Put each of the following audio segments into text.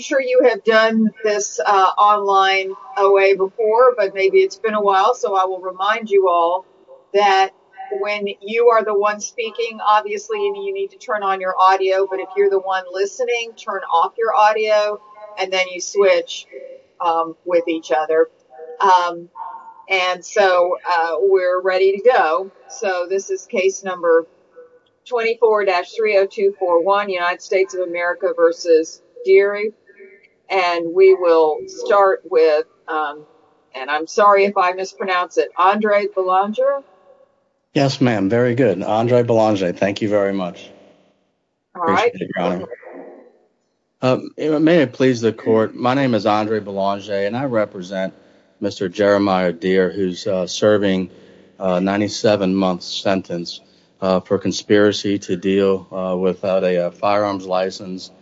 I'm sure you have done this online OA before, but maybe it's been a while, so I will remind you all that when you are the one speaking, obviously you need to turn on your audio, but if you're the one listening, turn off your audio and then you switch with each other. And so we're ready to go. So this is case number 24-30241, United States of America v. Deare, and we will start with, and I'm sorry if I mispronounce it, Andre Belanger. Yes, ma'am. Very good. Andre Belanger. Thank you very much. All right. May it please the court. My name is Andre Belanger and I represent Mr. Jeremiah Deare, who's serving a 97-month sentence for conspiracy to deal without a firearms license,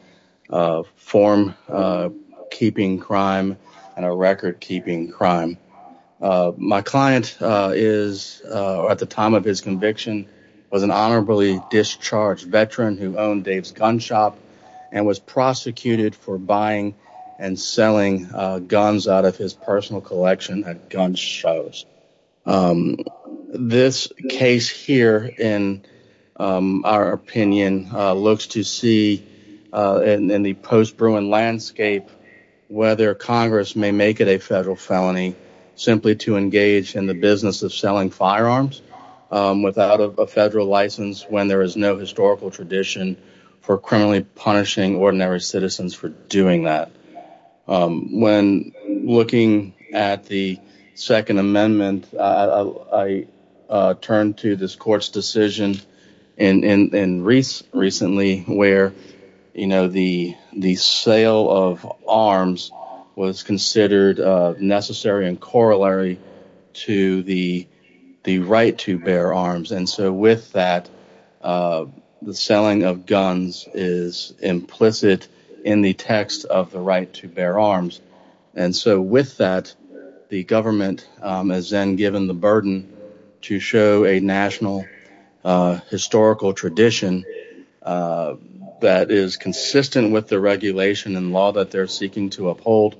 form-keeping crime, and a record-keeping crime. My client is, at the time of his conviction, was an honorably discharged veteran who owned Dave's Gun Shop and was prosecuted for buying and selling guns out of his personal collection at gun shows. This case here, in our opinion, looks to see, in the post-Bruin landscape, whether Congress may make it a federal felony simply to engage in the business of selling firearms without a federal license when there is no historical tradition for criminally punishing ordinary citizens for doing that. When looking at the Second Amendment, I turned to this court's decision recently where, you know, the sale of arms was considered necessary and corollary to the right to bear arms. And so, with that, the selling of guns is implicit in the text of the right to bear arms. And so, with that, the government is then given the burden to show a national historical tradition that is consistent with the regulation and law that they're seeking to uphold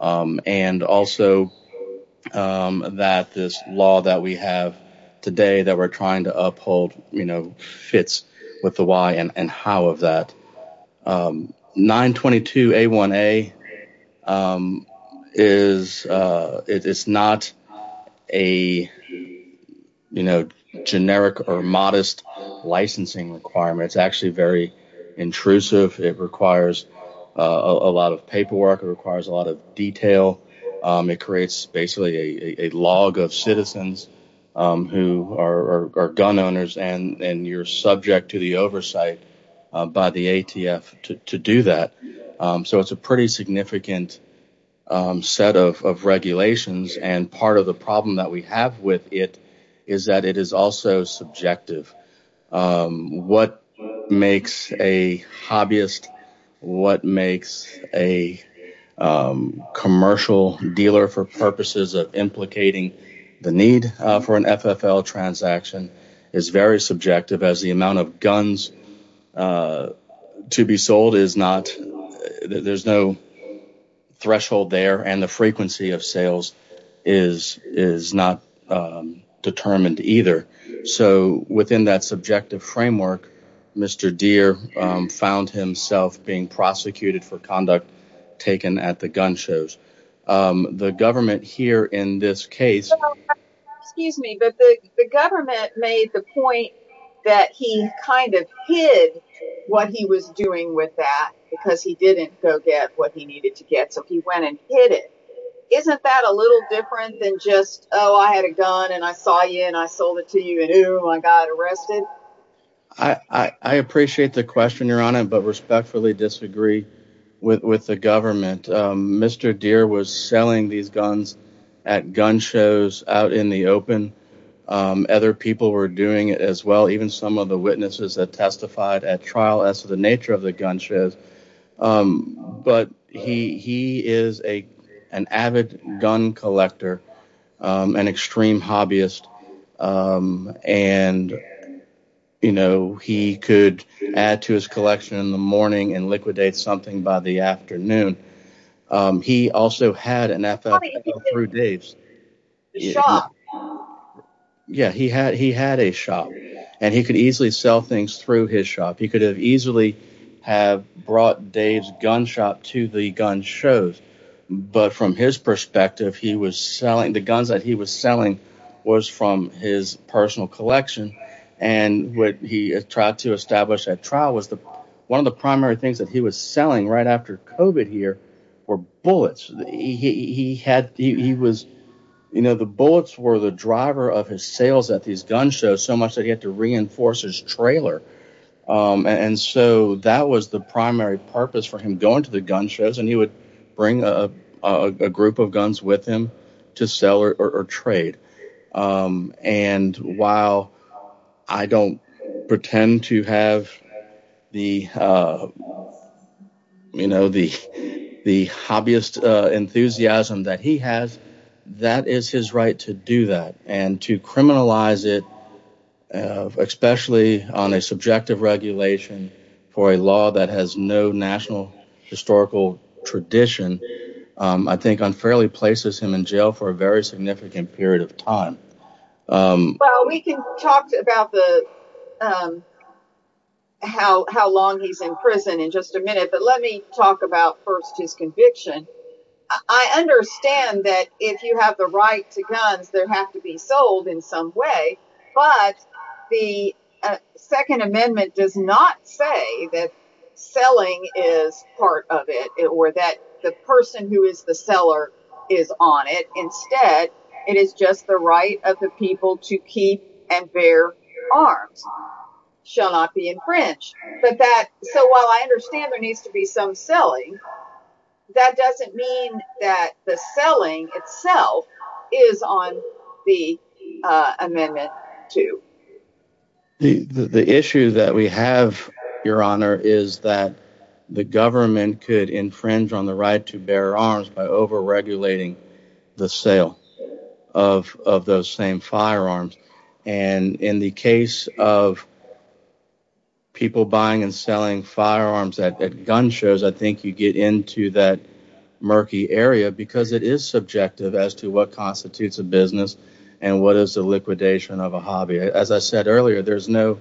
and also that this law that we have today that we're trying to uphold fits with the why and how of that. 922A1A is not a generic or modest licensing requirement. It's actually very intrusive. It requires a lot of paperwork. It requires a lot of detail. It creates basically a log of citizens who are gun owners and you're subject to the oversight by the ATF to do that. So, it's a pretty significant set of regulations and part of the problem that we have with it is that it is also subjective. What makes a hobbyist, what makes a commercial dealer for purposes of implicating the need for an FFL transaction is very subjective as the amount of guns to be sold is not, there's no threshold there and the frequency of sales is not determined either. So, within that subjective framework, Mr. Deere found himself being prosecuted for conduct taken at the gun shows. The government here in this case... Excuse me, but the government made the point that he kind of hid what he was doing with that because he didn't go get what he needed to get so he went and hid it. Isn't that a little different than just, Oh, I had a gun and I saw you and I sold it to you and ooh, I got arrested? I appreciate the question, Your Honor, but respectfully disagree with the government. Mr. Deere was selling these guns at gun shows out in the open. Other people were doing it as well, even some of the witnesses that testified at trial as to the nature of the gun shows. But he is an avid gun collector, an extreme hobbyist and he could add to his collection in the morning and liquidate something by the afternoon. He also had an FFL through Dave's. Yeah, he had a shop and he could easily sell things through his shop. He could have easily have brought Dave's gun shop to the gun shows. But from his perspective, the guns that he was selling was from his personal collection and what he tried to establish at trial was one of the primary things that he was selling right after COVID here were bullets. The bullets were the driver of his sales at these gun shows so much that he had to reinforce his trailer. And so that was the primary purpose for him going to the gun shows and he would bring a group of guns with him to sell or trade. And while I don't pretend to have the, you know, the hobbyist enthusiasm that he has, that is his right to do that and to criminalize it especially on a subjective regulation for a law that has no national historical tradition I think unfairly places him in jail for a very significant period of time. Well, we can talk about how long he's in prison in just a minute but let me talk about first his conviction. I understand that if you have the right to guns there have to be sold in some way but the Second Amendment does not say that selling is part of it or that the person who is the seller is on it instead it is just the right of the people to keep and bear arms shall not be infringed. So while I understand there needs to be some selling that doesn't mean that the selling itself is on the Amendment 2. The issue that we have, Your Honor, is that the government could infringe on the right to bear arms by over-regulating the sale of those same firearms and in the case of people buying and selling firearms at gun shows I think you get into that murky area because it is subjective as to what constitutes a business and what is the liquidation of a hobby. As I said earlier, there's no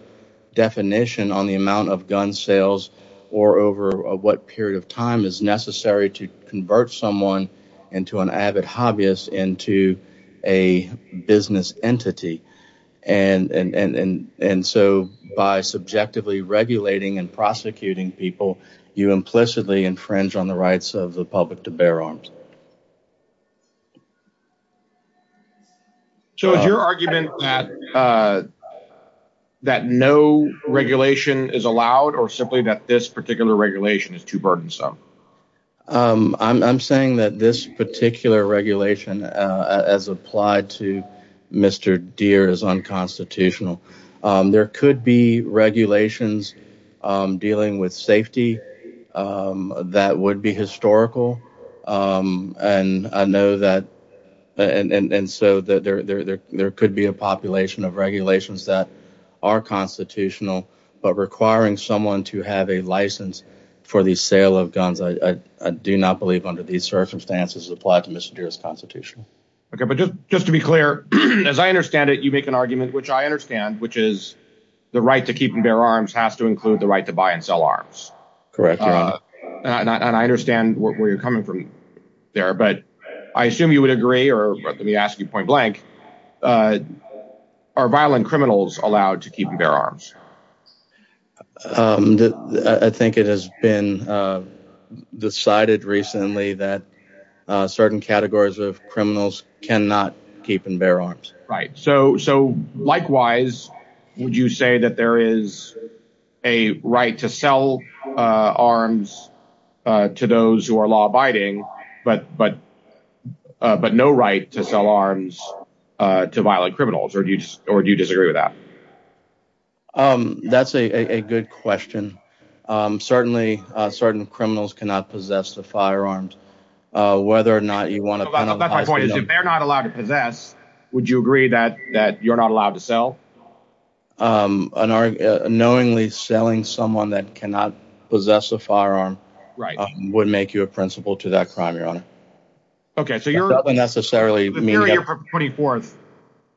definition on the amount of gun sales or over what period of time is necessary to convert someone into an avid hobbyist into a business entity and so by subjectively regulating and prosecuting people you implicitly infringe on the rights of the public to bear arms. So is your argument that no regulation is allowed or simply that this particular regulation is too burdensome? I'm saying that this particular regulation as applied to Mr. Deere is unconstitutional. There could be regulations dealing with safety that would be historical and so there could be a population of regulations that are constitutional but requiring someone to have a license for the sale of guns I do not believe under these circumstances is applied to Mr. Deere as constitutional. Just to be clear, as I understand it you make an argument which I understand which is the right to keep and bear arms has to include the right to buy and sell arms. Correct, Your Honor. And I understand where you're coming from there but I assume you would agree or let me ask you point blank are violent criminals allowed to keep and bear arms? I think it has been decided recently that certain categories of criminals cannot keep and bear arms. Right. So likewise would you say that there is a right to sell arms to those who are law-abiding but no right to sell arms to violent criminals or do you disagree with that? That's a good question. Certainly certain criminals cannot possess the firearms whether or not you want to penalize them. That's my point. If they're not allowed to possess would you agree that you're not allowed to sell? Knowingly selling someone that cannot possess a firearm would make you a principal to that crime, Your Honor. That doesn't necessarily mean that The period from the 24th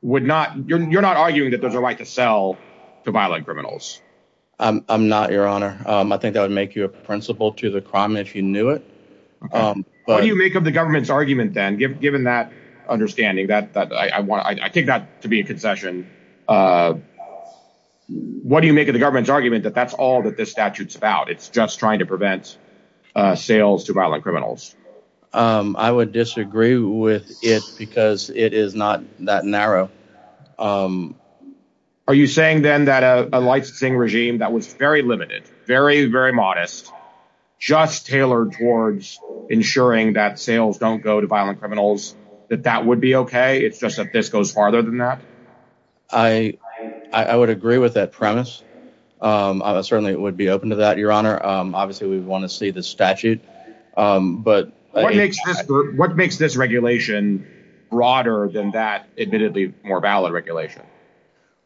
you're not arguing that there's a right to sell to violent criminals? I'm not, Your Honor. I think that would make you a principal to the crime if you knew it. What do you make of the government's argument then given that understanding I take that to be a concession What do you make of the government's argument that that's all that this statute's about? It's just trying to prevent sales to violent criminals? I would disagree with it because it is not that narrow. Are you saying then that a licensing regime that was very limited very, very modest just tailored towards ensuring that sales don't go to violent criminals that that would be okay? It's just that this goes farther than that? I would agree with that premise I certainly would be open to that, Your Honor Obviously we'd want to see this statute What makes this regulation broader than that admittedly more valid regulation?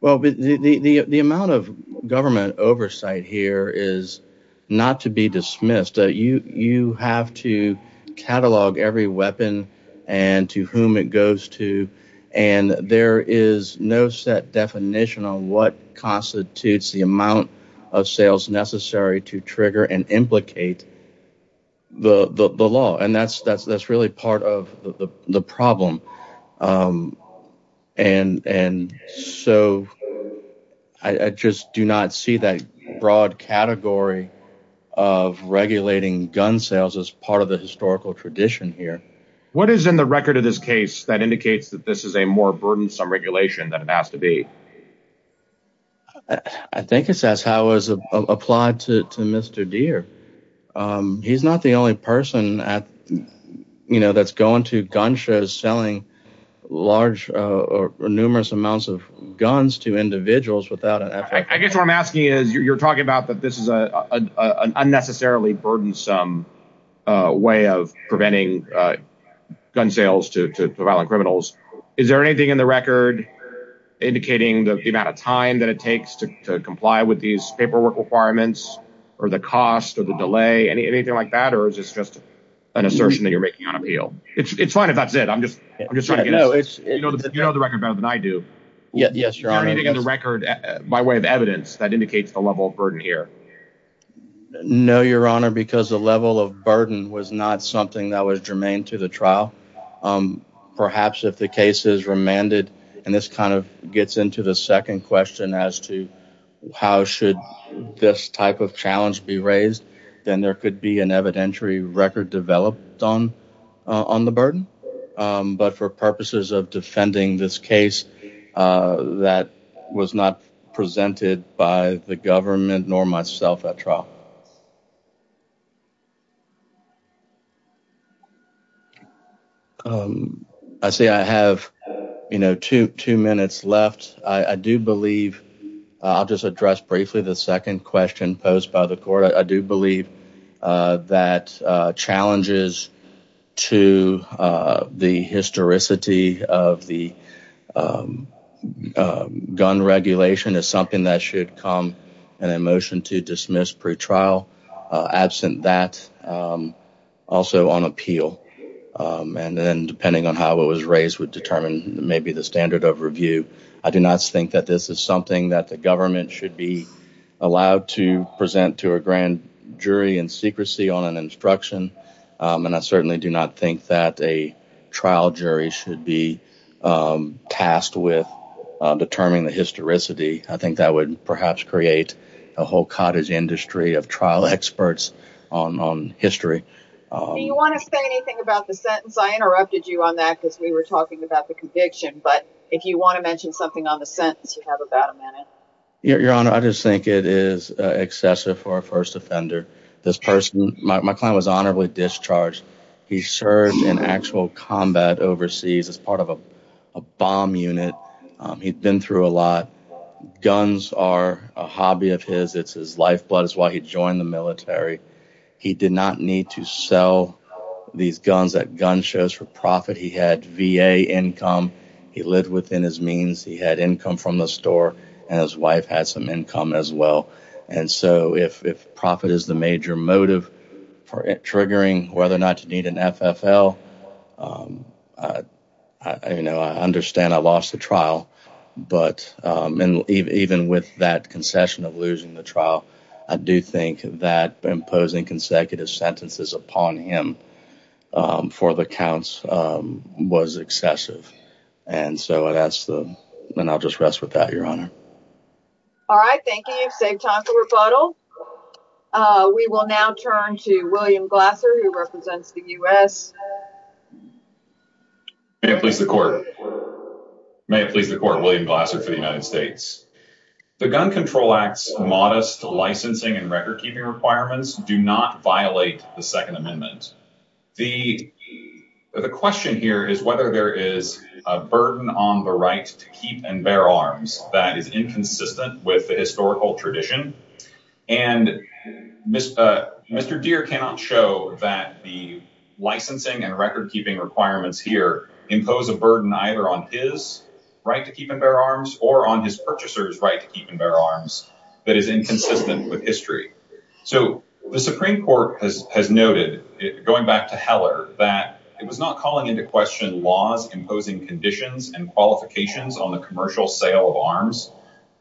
The amount of government oversight here is not to be dismissed You have to catalog every weapon and to whom it goes to and there is no set definition on what constitutes the amount of sales necessary to trigger and implicate the law and that's really part of the problem I just do not see that broad category of regulating gun sales as part of the historical tradition here What is in the record of this case that indicates that this is a more burdensome regulation than it has to be? I think it says how it was applied to Mr. Deere He's not the only person that's going to gun shows selling large or numerous amounts of guns to individuals I guess what I'm asking is you're talking about that this is an unnecessarily burdensome way of preventing gun sales to violent criminals. Is there anything in the record indicating the amount of time that it takes to comply with these paperwork requirements or the cost or the delay or is it just an assertion that you're making on appeal? It's fine if that's it You know the record better than I do Is there anything in the record by way of evidence that indicates the level of burden here? No your honor because the level of burden was not something that was germane to the trial Perhaps if the case is remanded and this kind of gets into the second question as to how should this type of challenge be raised then there could be an evidentiary record developed on the burden but for purposes of this case that was not presented by the government nor myself at trial I see I have two minutes left I'll just address briefly the second question posed by the court I do believe that challenges to the gun regulation is something that should come in a motion to dismiss pretrial absent that also on appeal and then depending on how it was raised would determine maybe the standard of review I do not think that this is something that the government should be allowed to present to a grand jury in secrecy on an instruction and I certainly do not think that a jury should be tasked with determining the historicity I think that would perhaps create a whole cottage industry of trial experts on history Do you want to say anything about the sentence? I interrupted you on that because we were talking about the conviction but if you want to mention something on the sentence you have about a minute Your honor I just think it is excessive for a first offender this person, my client was honorably discharged he served in actual combat overseas as part of a bomb unit he had been through a lot guns are a hobby of his it is his lifeblood that is why he joined the military he did not need to sell these guns that gun shows for profit he had VA income he lived within his means he had income from the store and his wife had some income as well and so if profit is the major motive for triggering whether or not you need an FFL I understand I lost the trial but even with that concession of losing the trial I do think that imposing consecutive sentences upon him for the counts was excessive and so I'll just rest with that your honor Thank you, you saved time for rebuttal We will now turn to William Glasser who represents the US May it please the court May it please the court William Glasser for the United States The Gun Control Act's modest licensing and record keeping requirements do not violate the second amendment The question here is whether there is a burden on the right to keep and bear arms that is inconsistent with the historical tradition Mr. Deere cannot show that the licensing and record keeping requirements impose a burden either on his right to keep and bear arms or on his purchasers right to keep and bear arms that is inconsistent with history The Supreme Court has noted going back to Heller that it was not calling into question laws imposing conditions and qualifications on the commercial sale of arms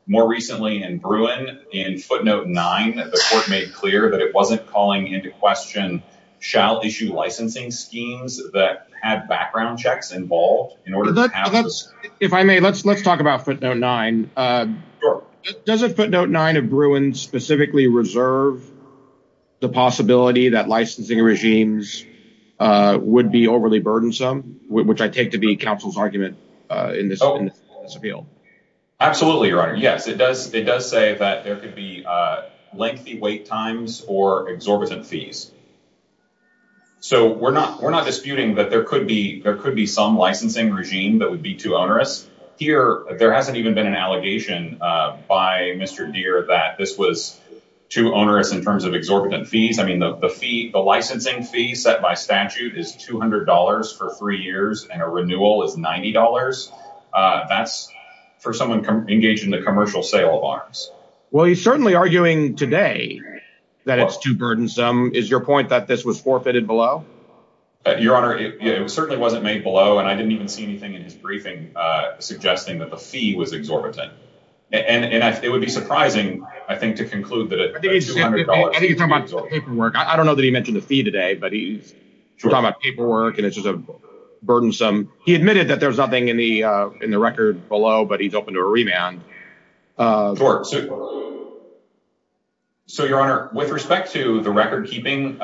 More recently in Bruin in footnote 9 the court made clear that it wasn't calling into question shall issue licensing schemes that had background checks involved If I may, let's talk about footnote 9 Does footnote 9 of Bruin specifically reserve the possibility that licensing regimes would be overly burdensome which I take to be counsel's argument in this appeal Absolutely, your honor. Yes, it does say that there could be lengthy wait times or exorbitant fees We're not disputing that there could be some licensing regime that would be too onerous There hasn't even been an allegation by Mr. Deere that this was too onerous in terms of exorbitant fees The licensing fee set by statute is $200 for three years and a renewal is $90 That's for someone engaged in the commercial sale of arms Well, he's certainly arguing today that it's too burdensome Is your point that this was forfeited below? Your honor, it certainly wasn't made below and I didn't even see anything in his briefing suggesting that the fee was exorbitant and it would be surprising to conclude that a $200 fee I think he's talking about paperwork I don't know that he mentioned the fee today but he's talking about paperwork and it's just burdensome He admitted that there's nothing in the record below but he's open to a remand Sure So your honor with respect to the record keeping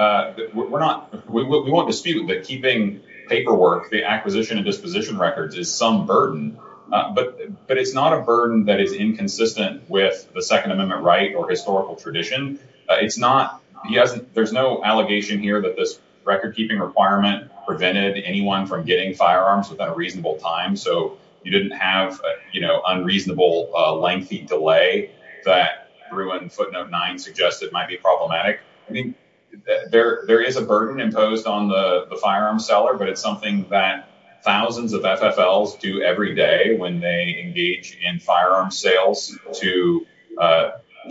we won't dispute that keeping paperwork the acquisition and disposition records is some burden but it's not a burden that is inconsistent with the Second Amendment right or historical tradition There's no allegation here that this record keeping requirement prevented anyone from getting firearms within a reasonable time so you didn't have unreasonable lengthy delay that Bruin footnote 9 suggested might be problematic There is a burden imposed on the firearm seller but it's something that thousands of FFLs do every day when they engage in firearm sales to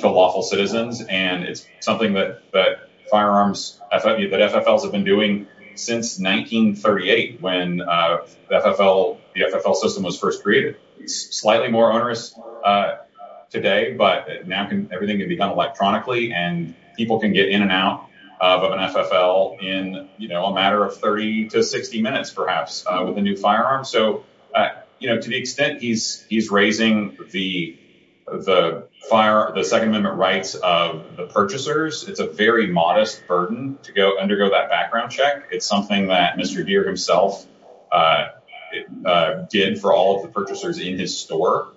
lawful citizens and it's something that firearms that FFLs have been doing since 1938 when the FFL system was first created slightly more onerous today but now everything can be done electronically and people can get in and out of an FFL in a matter of 30-60 minutes perhaps with a new firearm so to the extent he's raising the Second Amendment rights of the purchasers, it's a very modest burden to undergo that background check. It's something that Mr. Deere himself did for all of the purchasers in his store.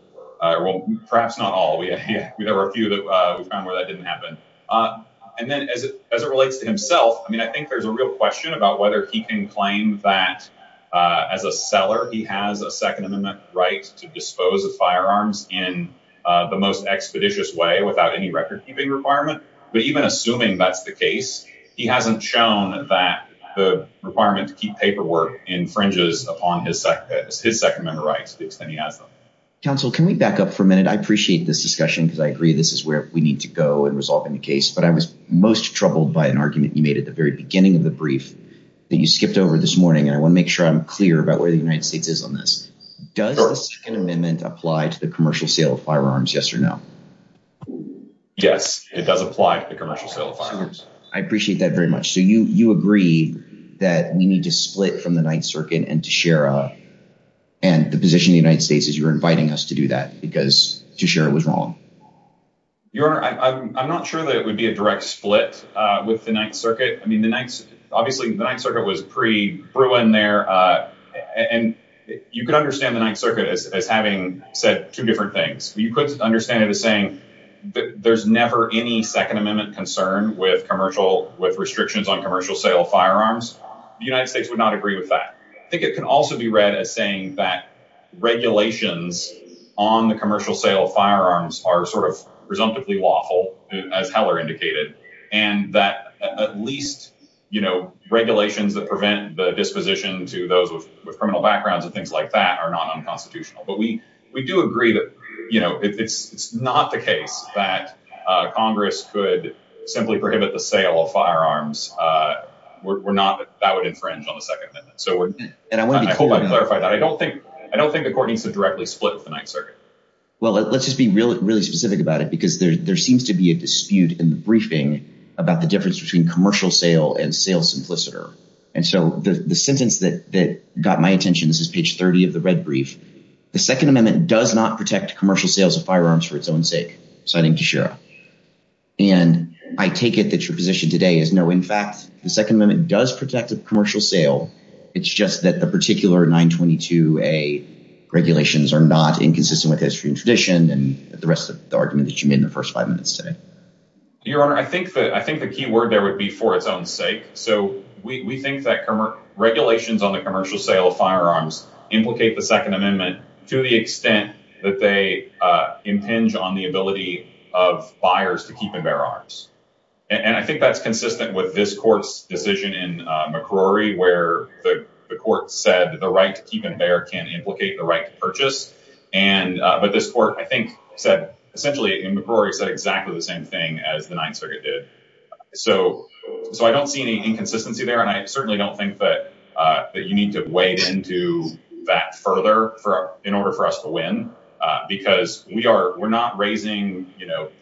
Well, perhaps not all. There were a few that didn't happen and then as it relates to himself I think there's a real question about whether he can claim that as a seller he has a Second Amendment right to dispose of firearms in the most expeditious way without any record-keeping requirement but even assuming that's the case he hasn't shown that the requirement to keep paperwork infringes upon his Second Amendment rights to the extent he has them. Counsel, can we back up for a minute? I appreciate this discussion because I agree this is where we need to go in resolving the case but I was most troubled by an argument you made at the very beginning of the brief that you skipped over this morning and I want to make sure I'm clear about where the United States is on this. Does the Second Amendment apply to the commercial sale of firearms, yes or no? Yes, it does apply to the commercial sale of firearms. I appreciate that very much. So you agree that we need to split from the Ninth Circuit and to share a and the position of the United States is you're inviting us to do that because to share it was wrong. Your Honor, I'm not sure that it would be a direct split with the Ninth Circuit. Obviously the Ninth Circuit was pre- You could understand the Ninth Circuit as having said two different things. You could understand it as saying there's never any Second Amendment concern with restrictions on commercial sale of firearms. The United States would not agree with that. I think it can also be read as saying that on the commercial sale of firearms are sort of presumptively lawful as Heller indicated and that at least regulations that prevent the disposition to those with criminal backgrounds and things like that are not unconstitutional. But we do agree that it's not the case that Congress could simply prohibit the sale of firearms were not that would infringe on the Second Amendment. I hope I clarified that. I don't think the Court needs to directly split with the Ninth Circuit. Well, let's just be really specific about it because there seems to be a dispute in the briefing about the difference between commercial sale and And so the sentence that got my attention, this is page 30 of the red brief. The Second Amendment does not protect commercial sales of firearms for its own sake. And I take it that your position today is no, in fact the Second Amendment does protect the commercial sale. It's just that the particular 922A regulations are not inconsistent with history and tradition and the rest of the argument that you made in the first five minutes today. Your Honor, I think the key word there would be for its own sake. We think that regulations on the commercial sale of firearms implicate the Second Amendment to the extent that they impinge on the ability of buyers to keep and bear arms. And I think that's consistent with this Court's decision in McCrory where the Court said the right to keep and bear can implicate the right to purchase. But this Court, I think, said essentially in McCrory said exactly the same thing as the Ninth Circuit did. So I don't see any inconsistency there and I certainly don't think that you need to wade into that further in order for us to win because we are not raising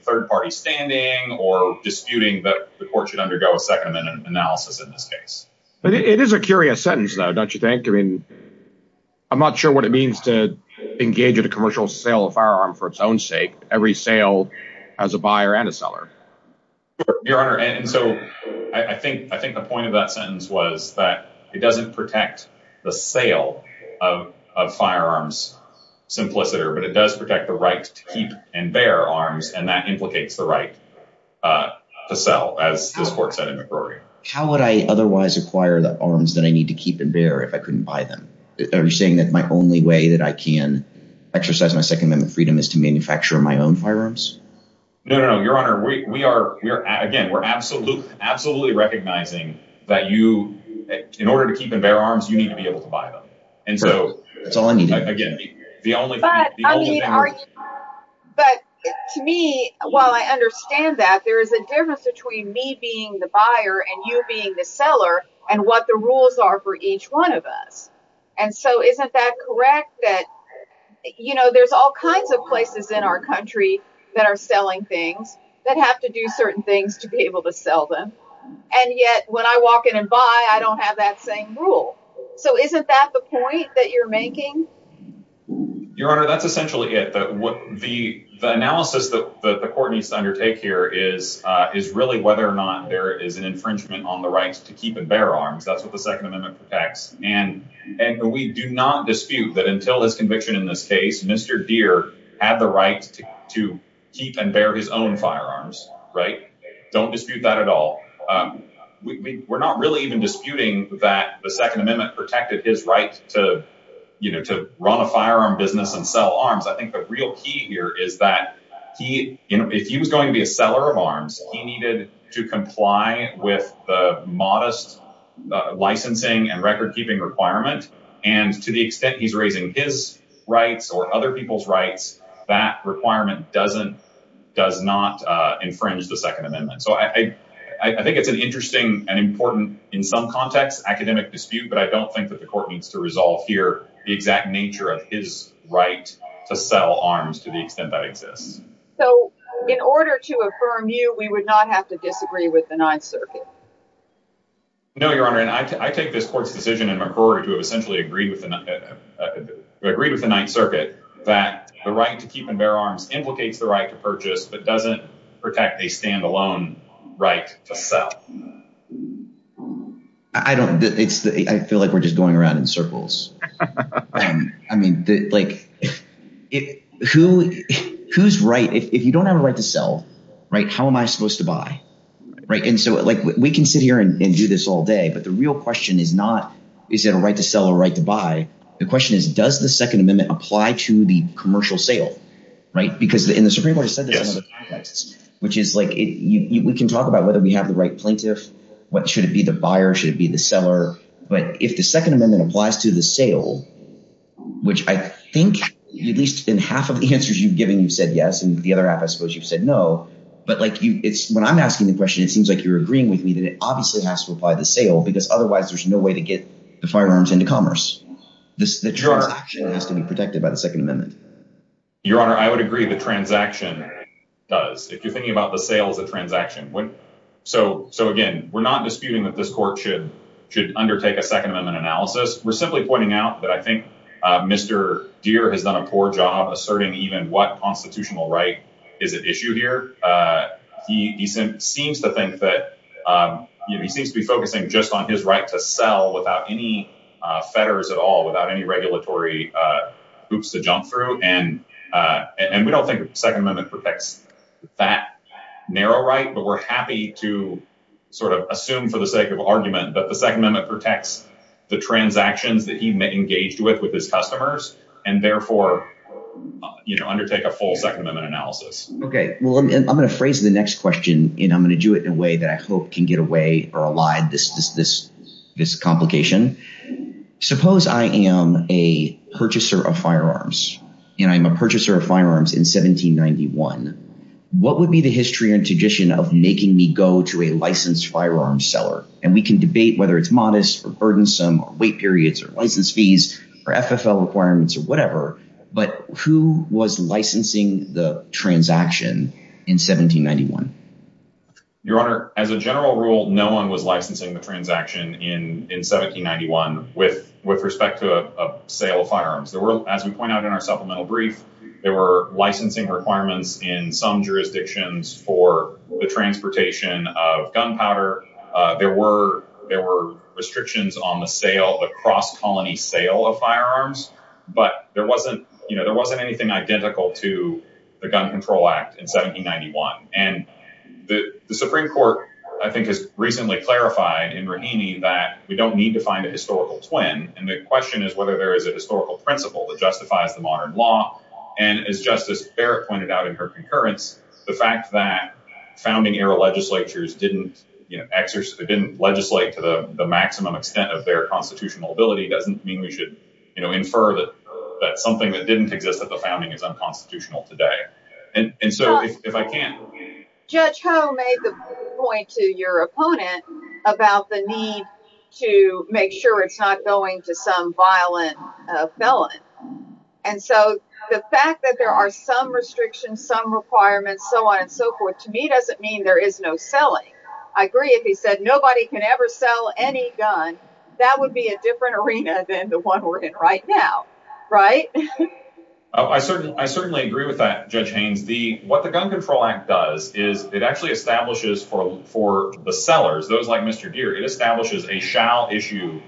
third party standing or disputing that the Court should undergo a Second Amendment analysis in this case. It is a curious sentence though, don't you think? I'm not sure what it means to engage in a commercial sale of firearms for its own sake. Every sale has a buyer and a seller. Your Honor, and so I think the point of that sentence was that it doesn't protect the sale of firearms simpliciter but it does protect the right to keep and bear arms and that implicates the right to sell as this Court said in McCrory. How would I otherwise acquire the arms that I need to keep and bear if I couldn't buy them? Are you saying that my only way that I can exercise my Second Amendment freedom is to manufacture my own firearms? No, Your Honor. Again, we're absolutely recognizing that in order to keep and bear arms, you need to be able to buy them. That's all I need to do. But, I mean, to me, while I understand that, there is a difference between me being the buyer and you being the seller and what the rules are for each one of us. Isn't that correct? You know, there's all kinds of places in our country that are selling things that have to do certain things to be able to sell them and yet, when I walk in and buy, I don't have that same rule. So, isn't that the point that you're making? Your Honor, that's essentially it. The analysis that the Court needs to undertake here is really whether or not there is an infringement on the right to keep and bear arms. That's what the Second Amendment protects and we do not dispute that until this conviction in this case, Mr. Deere had the right to keep and bear his own firearms, right? Don't dispute that at all. We're not really even disputing that the Second Amendment protected his right to run a firearm business and sell arms. I think the real key here is that if he was going to be a seller of arms, he needed to comply with the modest licensing and record-keeping requirement and to the extent he's raising his rights or other people's rights, that requirement does not infringe the Second Amendment. I think it's an interesting and important, in some contexts, academic dispute, but I don't think that the Court needs to resolve here the exact nature of his right to sell arms to the extent that exists. So, in order to affirm you, we would not have to disagree with the Ninth Circuit? No, Your Honor, and I take this Court's decision in McCrory to have essentially agreed with the Ninth Circuit that the right to keep and bear arms implicates the right to purchase, but doesn't protect a stand-alone right to sell. I feel like we're just going around in circles. I mean, who's right? If you don't have a right to sell, how am I supposed to buy? We can sit here and do this all day, but the real question is not, is it a right to sell or a right to buy? The question is, does the Second Amendment apply to the commercial sale? Because in the Supreme Court, there's another context, which is we can talk about whether we have the right plaintiff, should it be the buyer, should it be the seller, but if the Second Amendment applies to the sale, which I think at least in half of the answers you've given, you've said yes, and the other half, I suppose, you've said no, but when I'm asking the question, it seems like you're agreeing with me that it obviously has to apply to the sale, because otherwise, there's no way to get the firearms into commerce. The transaction has to be protected by the Second Amendment. Your Honor, I would agree the transaction does, if you're thinking about the sale as a transaction. So, again, we're not disputing that this Court should undertake a Second Amendment analysis. We're simply pointing out that I think Mr. Deere has done a poor job asserting even what constitutional right is at issue here. He seems to think that he seems to be focusing just on his right to sell without any fetters at all, without any regulatory hoops to jump through, and we don't think the Second Amendment protects that narrow right, but we're happy to assume for the sake of argument that the Second Amendment protects the transactions that he engaged with his customers, and therefore undertake a full Second Amendment analysis. Okay. Well, I'm going to phrase the next question, and I'm going to do it in a way that I hope can get away or allay this complication. Suppose I am a purchaser of firearms, and I'm a purchaser of firearms in 1791. What would be the history and tradition of making me go to a licensed firearm seller? And we can debate whether it's modest, or burdensome, or wait periods, or license fees, or FFL requirements, or whatever, but who was licensing the transaction in 1791? Your Honor, as a general rule, no one was licensing the transaction in 1791 with respect to a sale of firearms. There were, as we point out in our supplemental brief, there were licensing requirements in some jurisdictions for the transportation of gunpowder. There were restrictions on the sale, the but there wasn't anything identical to the Gun Control Act in 1791, and the Supreme Court I think has recently clarified in Raheny that we don't need to find a historical twin, and the question is whether there is a historical principle that justifies the modern law, and as Justice Barrett pointed out in her concurrence, the fact that founding era legislatures didn't legislate to the maximum extent of their constitutional ability doesn't mean we should infer that something that didn't exist at the founding is unconstitutional today. And so, if I can... Judge Ho made the point to your opponent about the need to make sure it's not going to some violent felon, and so the fact that there are some restrictions, some requirements, so on and so forth, to me doesn't mean there is no selling. I agree if he said nobody can ever sell any gun, that would be a different arena than the one we're in right now, right? I certainly agree with that, Judge Haynes. What the Gun Control Act does is it actually establishes for the sellers, those like Mr. Deere, it establishes a shall issue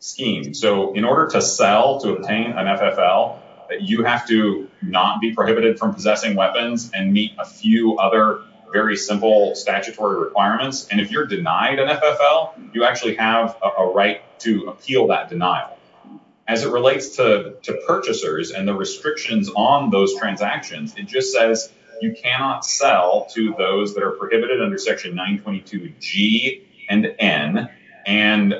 scheme, so in order to sell, to obtain an FFL, you have to not be prohibited from possessing weapons and meet a few other very simple statutory requirements, and if you're denied an FFL, you actually have a right to appeal that denial. As it relates to purchasers and the restrictions on those transactions, it just says you cannot sell to those that are prohibited under section 922G and N, and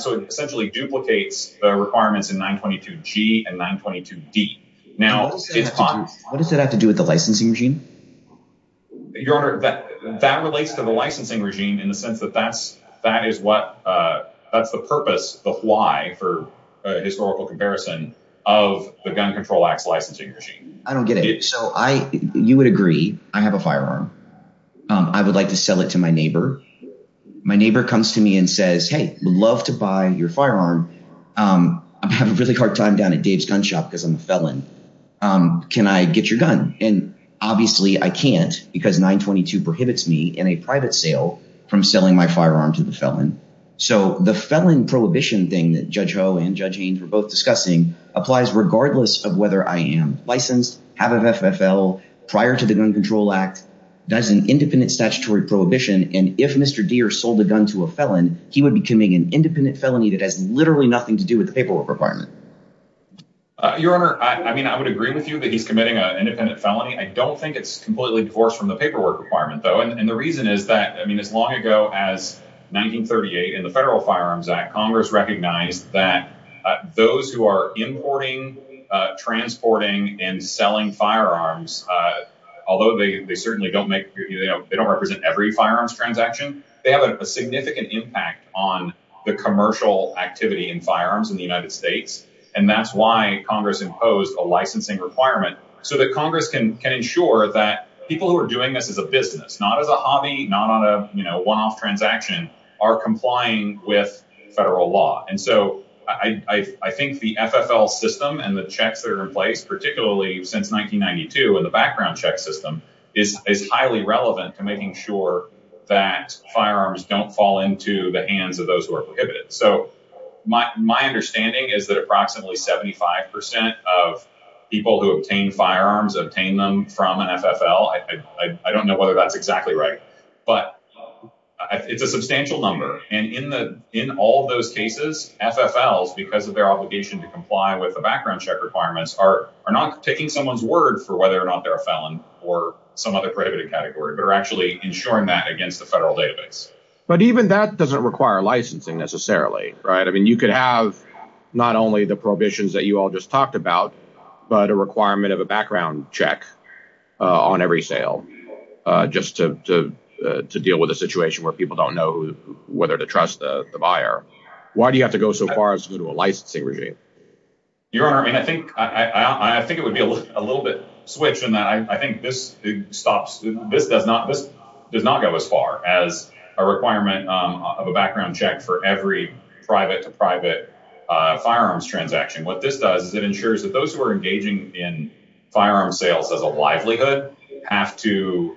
so it essentially duplicates the requirements in 922G and 922D. What does that have to do with the licensing regime? Your Honor, that relates to the licensing regime in the sense that that is what, that's the purpose, the why for historical comparison of the Gun Control Act's licensing regime. I don't get it. So I, you would agree I have a firearm. I would like to sell it to my neighbor. My neighbor comes to me and says hey, would love to buy your firearm. I'm having a really hard time down at Dave's Gun Shop because I'm a felon. Can I get your gun? And obviously I can't because 922 prohibits me in a private sale from selling my firearm to the felon. So the felon prohibition thing that Judge Ho and Judge Haynes were both discussing applies regardless of whether I am licensed, have an FFL prior to the Gun Control Act, does an independent statutory prohibition, and if Mr. Deere sold a gun to a felon, he would be committing an independent felony that has literally nothing to do with the paperwork requirement. Your Honor, I mean, I would agree with you that he's committing an independent felony. I don't think it's completely divorced from the paperwork requirement, though, and the reason is that as long ago as 1938 in the Federal Firearms Act, Congress recognized that those who are importing, transporting, and selling firearms, although they certainly don't represent every firearms transaction, they have a significant impact on the commercial activity in firearms in the United States, and that's why Congress imposed a licensing requirement so that Congress can ensure that people who are doing this as a business, not as a hobby, not on a one-off transaction, are complying with federal law. And so I think the FFL system and the checks that are in place, particularly since 1992 in the background check system, is highly relevant to making sure that firearms don't fall into the hands of those who are prohibited. So my understanding is that approximately 75% of people who obtain firearms obtain them from an FFL. I don't know whether that's exactly right, but it's a substantial number, and in all those cases, FFLs because of their obligation to comply with the background check requirements are not taking someone's word for whether or not they're a felon or some other prohibited category, but are actually ensuring that against the federal database. But even that doesn't require licensing, necessarily, right? I mean, you could have not only the prohibitions that you all just talked about, but a requirement of a background check on every sale just to deal with a situation where people don't know whether to trust the buyer. Why do you have to go so far as to go to a licensing regime? Your Honor, I think it would be a little bit switched in that I think this does not go as far as a requirement of a background check for every private-to-private firearms transaction. What this does is it ensures that those who are engaging in firearms sales as a livelihood have to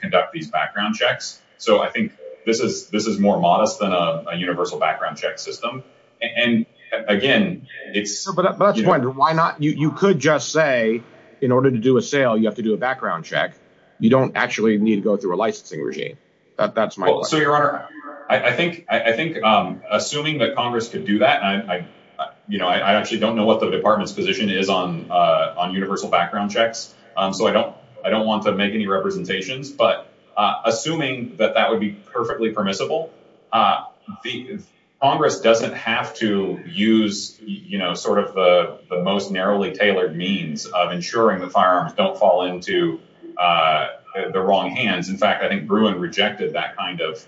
conduct these background checks. So I think this is more modest than a universal background check system. And, again, it's... But that's the point. Why not? You could just say, in order to do a sale, you have to do a background check. You don't actually need to go through a licensing regime. That's my question. Well, so, Your Honor, I think assuming that Congress could do that, and I actually don't know what the Department's position is on universal background checks, so I don't want to make any representations, but assuming that that would be perfectly permissible, Congress doesn't have to use sort of the most narrowly tailored means of ensuring the firearms don't fall into the wrong hands. In fact, I think Bruin rejected that kind of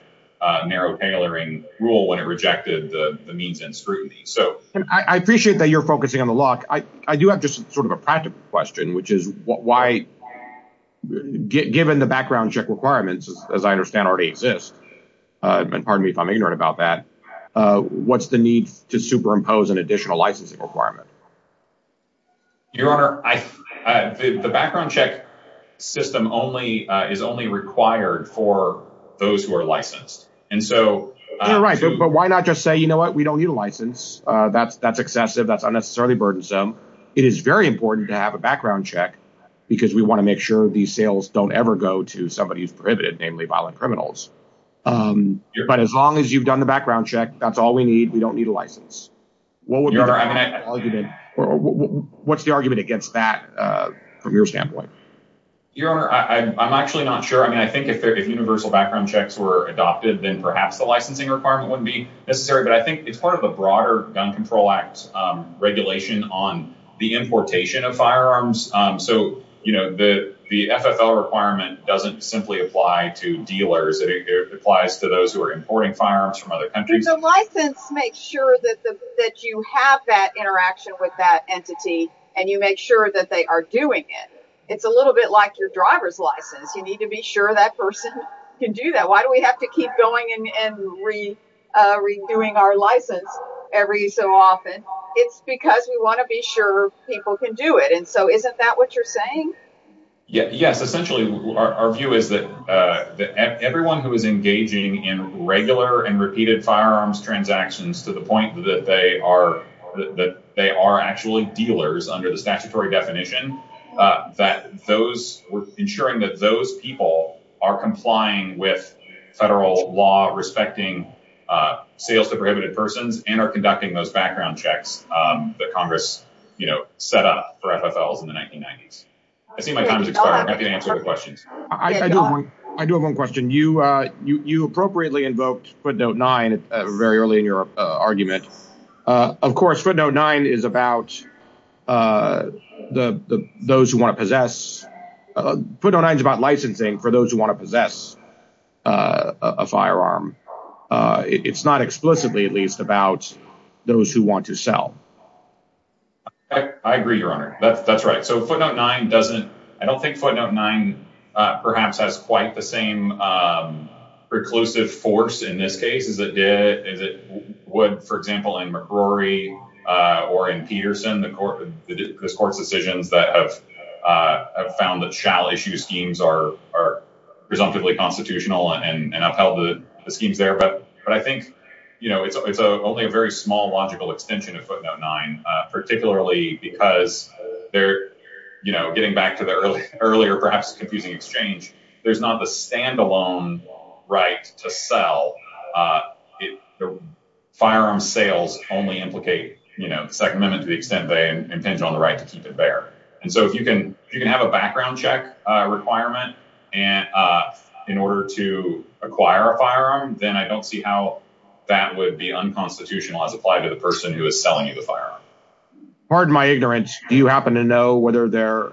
narrow tailoring rule when it rejected the means and scrutiny. I appreciate that you're focusing on the law. I do have just sort of a practical question, which is why, given the background check requirements, as I understand already exist, and pardon me if I'm ignorant about that, what's the need to superimpose an additional licensing requirement? Your Honor, the background check system is only required for those who are licensed. You're right, but why not just say, you know what, we don't need a license. That's excessive. That's unnecessarily burdensome. It is very important to have a background check because we want to make sure these sales don't ever go to somebody who's prohibited, namely violent criminals. But as long as you've done the background check, that's all we need. We don't need a license. What would be the argument against that from your standpoint? Your Honor, I'm actually not sure. I think if universal background checks were adopted, then perhaps the licensing requirement wouldn't be necessary, but I think it's part of the broader Gun Control Act regulation on the importation of firearms. The FFL requirement doesn't simply apply to dealers. It applies to those who are importing firearms from other countries. The license makes sure that you have that interaction with that entity, and you make sure that they are doing it. It's a little bit like your driver's license. You need to be sure that person can do that. Why do we have to keep going and redoing our license every so often? It's because we want to be sure people can do it. Isn't that what you're saying? Yes, essentially our view is that everyone who is engaging in regular and repeated firearms transactions to the point that they are actually dealers under the statutory definition that we're ensuring that those people are complying with federal law respecting sales to prohibited persons and are conducting those background checks that Congress set up for FFLs in the 1990s. I see my time has expired. I'm happy to answer the questions. I do have one question. You appropriately invoked Footnote 9 very early in your argument. Of course, Footnote 9 is about those who want to possess Footnote 9 is about licensing for those who want to possess a firearm. It's not explicitly, at least, about those who want to sell. I agree, Your Honor. That's right. I don't think Footnote 9 perhaps has quite the same preclusive force in this case as it would, for example, in McRory or in Peterson the court's decisions that have found that shall issue schemes are presumptively constitutional and upheld the schemes there. I think it's only a very small logical extension of Footnote 9 particularly because getting back to the earlier perhaps confusing exchange, there's not the standalone right to sell firearm sales only implicate the Second Amendment to the extent they impinge on the right to keep it bare. If you can have a background check requirement in order to acquire a firearm then I don't see how that would be unconstitutional as applied to the person who is selling you the firearm. Pardon my ignorance, do you happen to know whether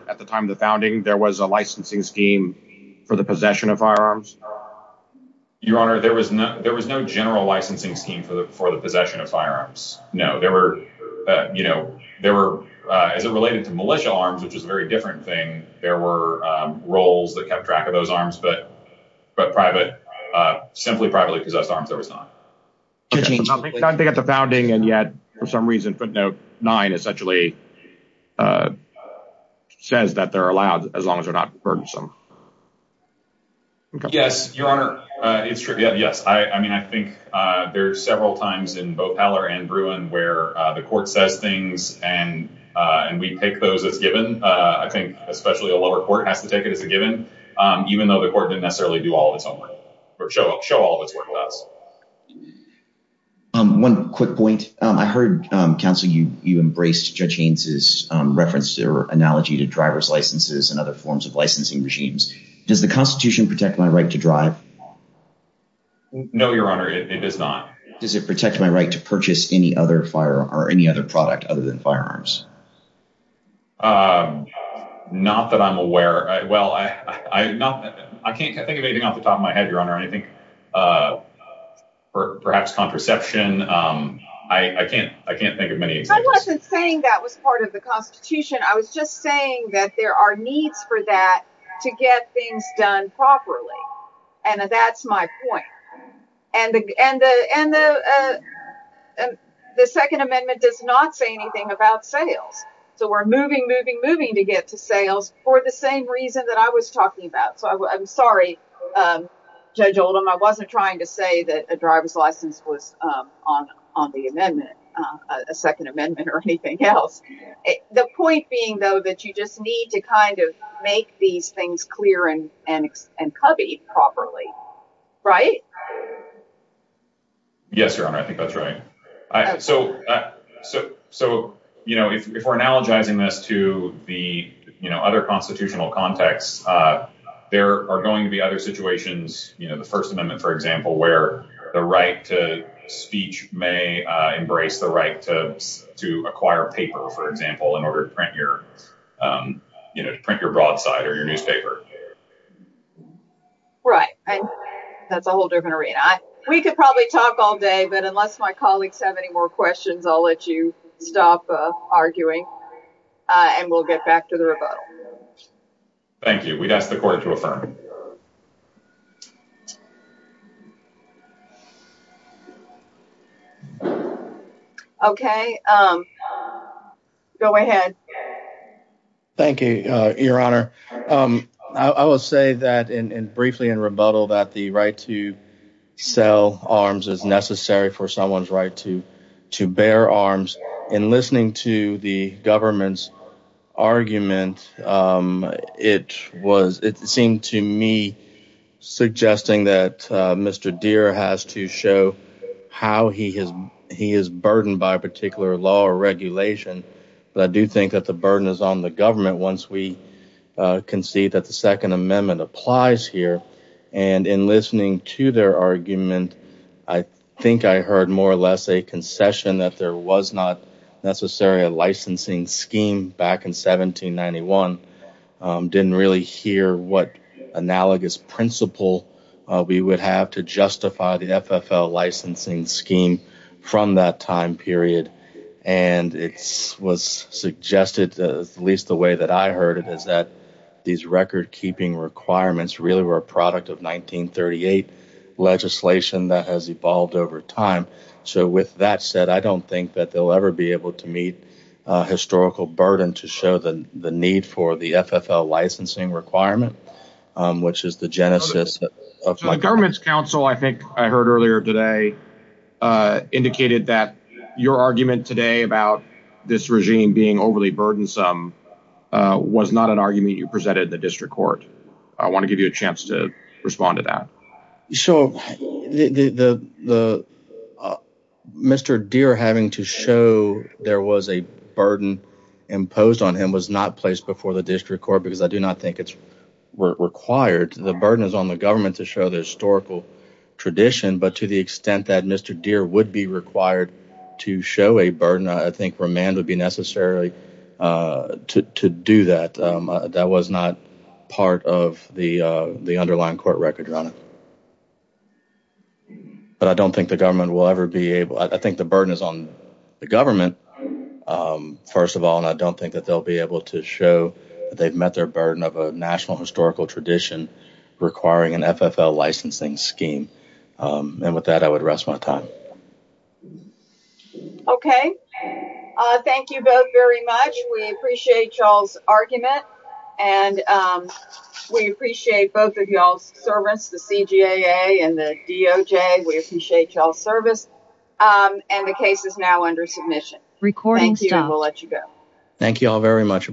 at the time of the founding there was a licensing scheme for the possession of firearms? Your Honor, there was no general licensing scheme for the possession of firearms. No. There were as it related to militia arms, which is a very different thing, there were roles that kept track of those arms but simply privately possessed arms there was not. I think at the founding and yet for some reason Footnote 9 essentially says that they're allowed as long as they're not burdensome. Yes, Your Honor. It's true, yes. I think there are several times in both Pallor and Bruin where the court says things and we take those as given. I think especially a lower court has to take it as a given even though the court didn't necessarily do all of its own work or show all of its work with us. One quick point. I heard, counsel, you embraced Judge Haynes' reference or analogy to driver's licenses and other forms of licensing regimes. Does the Constitution protect my right to drive? No, Your Honor. It does not. Does it protect my right to purchase any other product other than firearms? Not that I'm aware. I can't think of anything off the top of my head, Your Honor. Perhaps contraception. I can't think of many examples. I wasn't saying that was part of the Constitution. I was just saying that there are needs for that to get things done properly. That's my point. The Second Amendment does not say anything about sales. We're moving, moving, moving to get to sales for the same reason that I was talking about. I'm sorry, Judge Oldham. I wasn't trying to say that a driver's license was on the amendment, a Second Amendment or anything else. The point being, though, that you just need to make these things clear and covered properly. Yes, Your Honor. I think that's right. If we're analogizing this to the other constitutional context, there are going to be other situations, the First Amendment, for example, where the right to speech may embrace the right to acquire paper, for example, to print your broadside or your newspaper. Right. That's a whole different arena. We could probably talk all day, but unless my colleagues have any more questions, I'll let you stop arguing and we'll get back to the rebuttal. Thank you. We'd ask the Court to affirm. Okay. Go ahead. Thank you, Your Honor. I will say that briefly in rebuttal that the right to sell arms is necessary for someone's right to bear arms. In listening to the government's argument, it seemed to me suggesting that Mr. Deere has to show how he is burdened by a particular law or regulation, but I do think that the burden is on the government once we concede that the Second Amendment applies here. In listening to their argument, I think I heard more or less a concession that there was not necessary a licensing scheme back in 1791. I didn't really hear what analogous principle we would have to justify the FFL licensing scheme from that time period, and it was suggested, at least the way that I heard it, is that these record-keeping requirements really were a product of 1938 legislation that has evolved over time. With that said, I don't think that they'll ever be able to meet a historical burden to show the need for the FFL licensing requirement, which is the genesis of... The government's council, I think I heard earlier today, indicated that your argument today about this regime being overly burdensome was not an argument you presented in the district court. I want to give you a chance to respond to that. So, the... Mr. Deere having to show there was a burden imposed on him was not placed before the district court, because I do not think it's required. The burden is on the government to show the historical tradition, but to the extent that Mr. Deere would be required to show a burden, I think remand would be necessary to do that. That was not part of the underlying court record, Your Honor. But I don't think the government will ever be able... I think the burden is on the government, first of all, and I don't think that they'll be able to show that they've met their burden of a national historical tradition requiring an FFL licensing scheme. And with that, I would rest my time. Okay. Thank you both very much. We appreciate y'all's argument and we appreciate both of y'all's service, the CGA and the DOJ. We appreciate y'all's service. And the case is now under submission. Thank you and we'll let you go. Thank you all very much.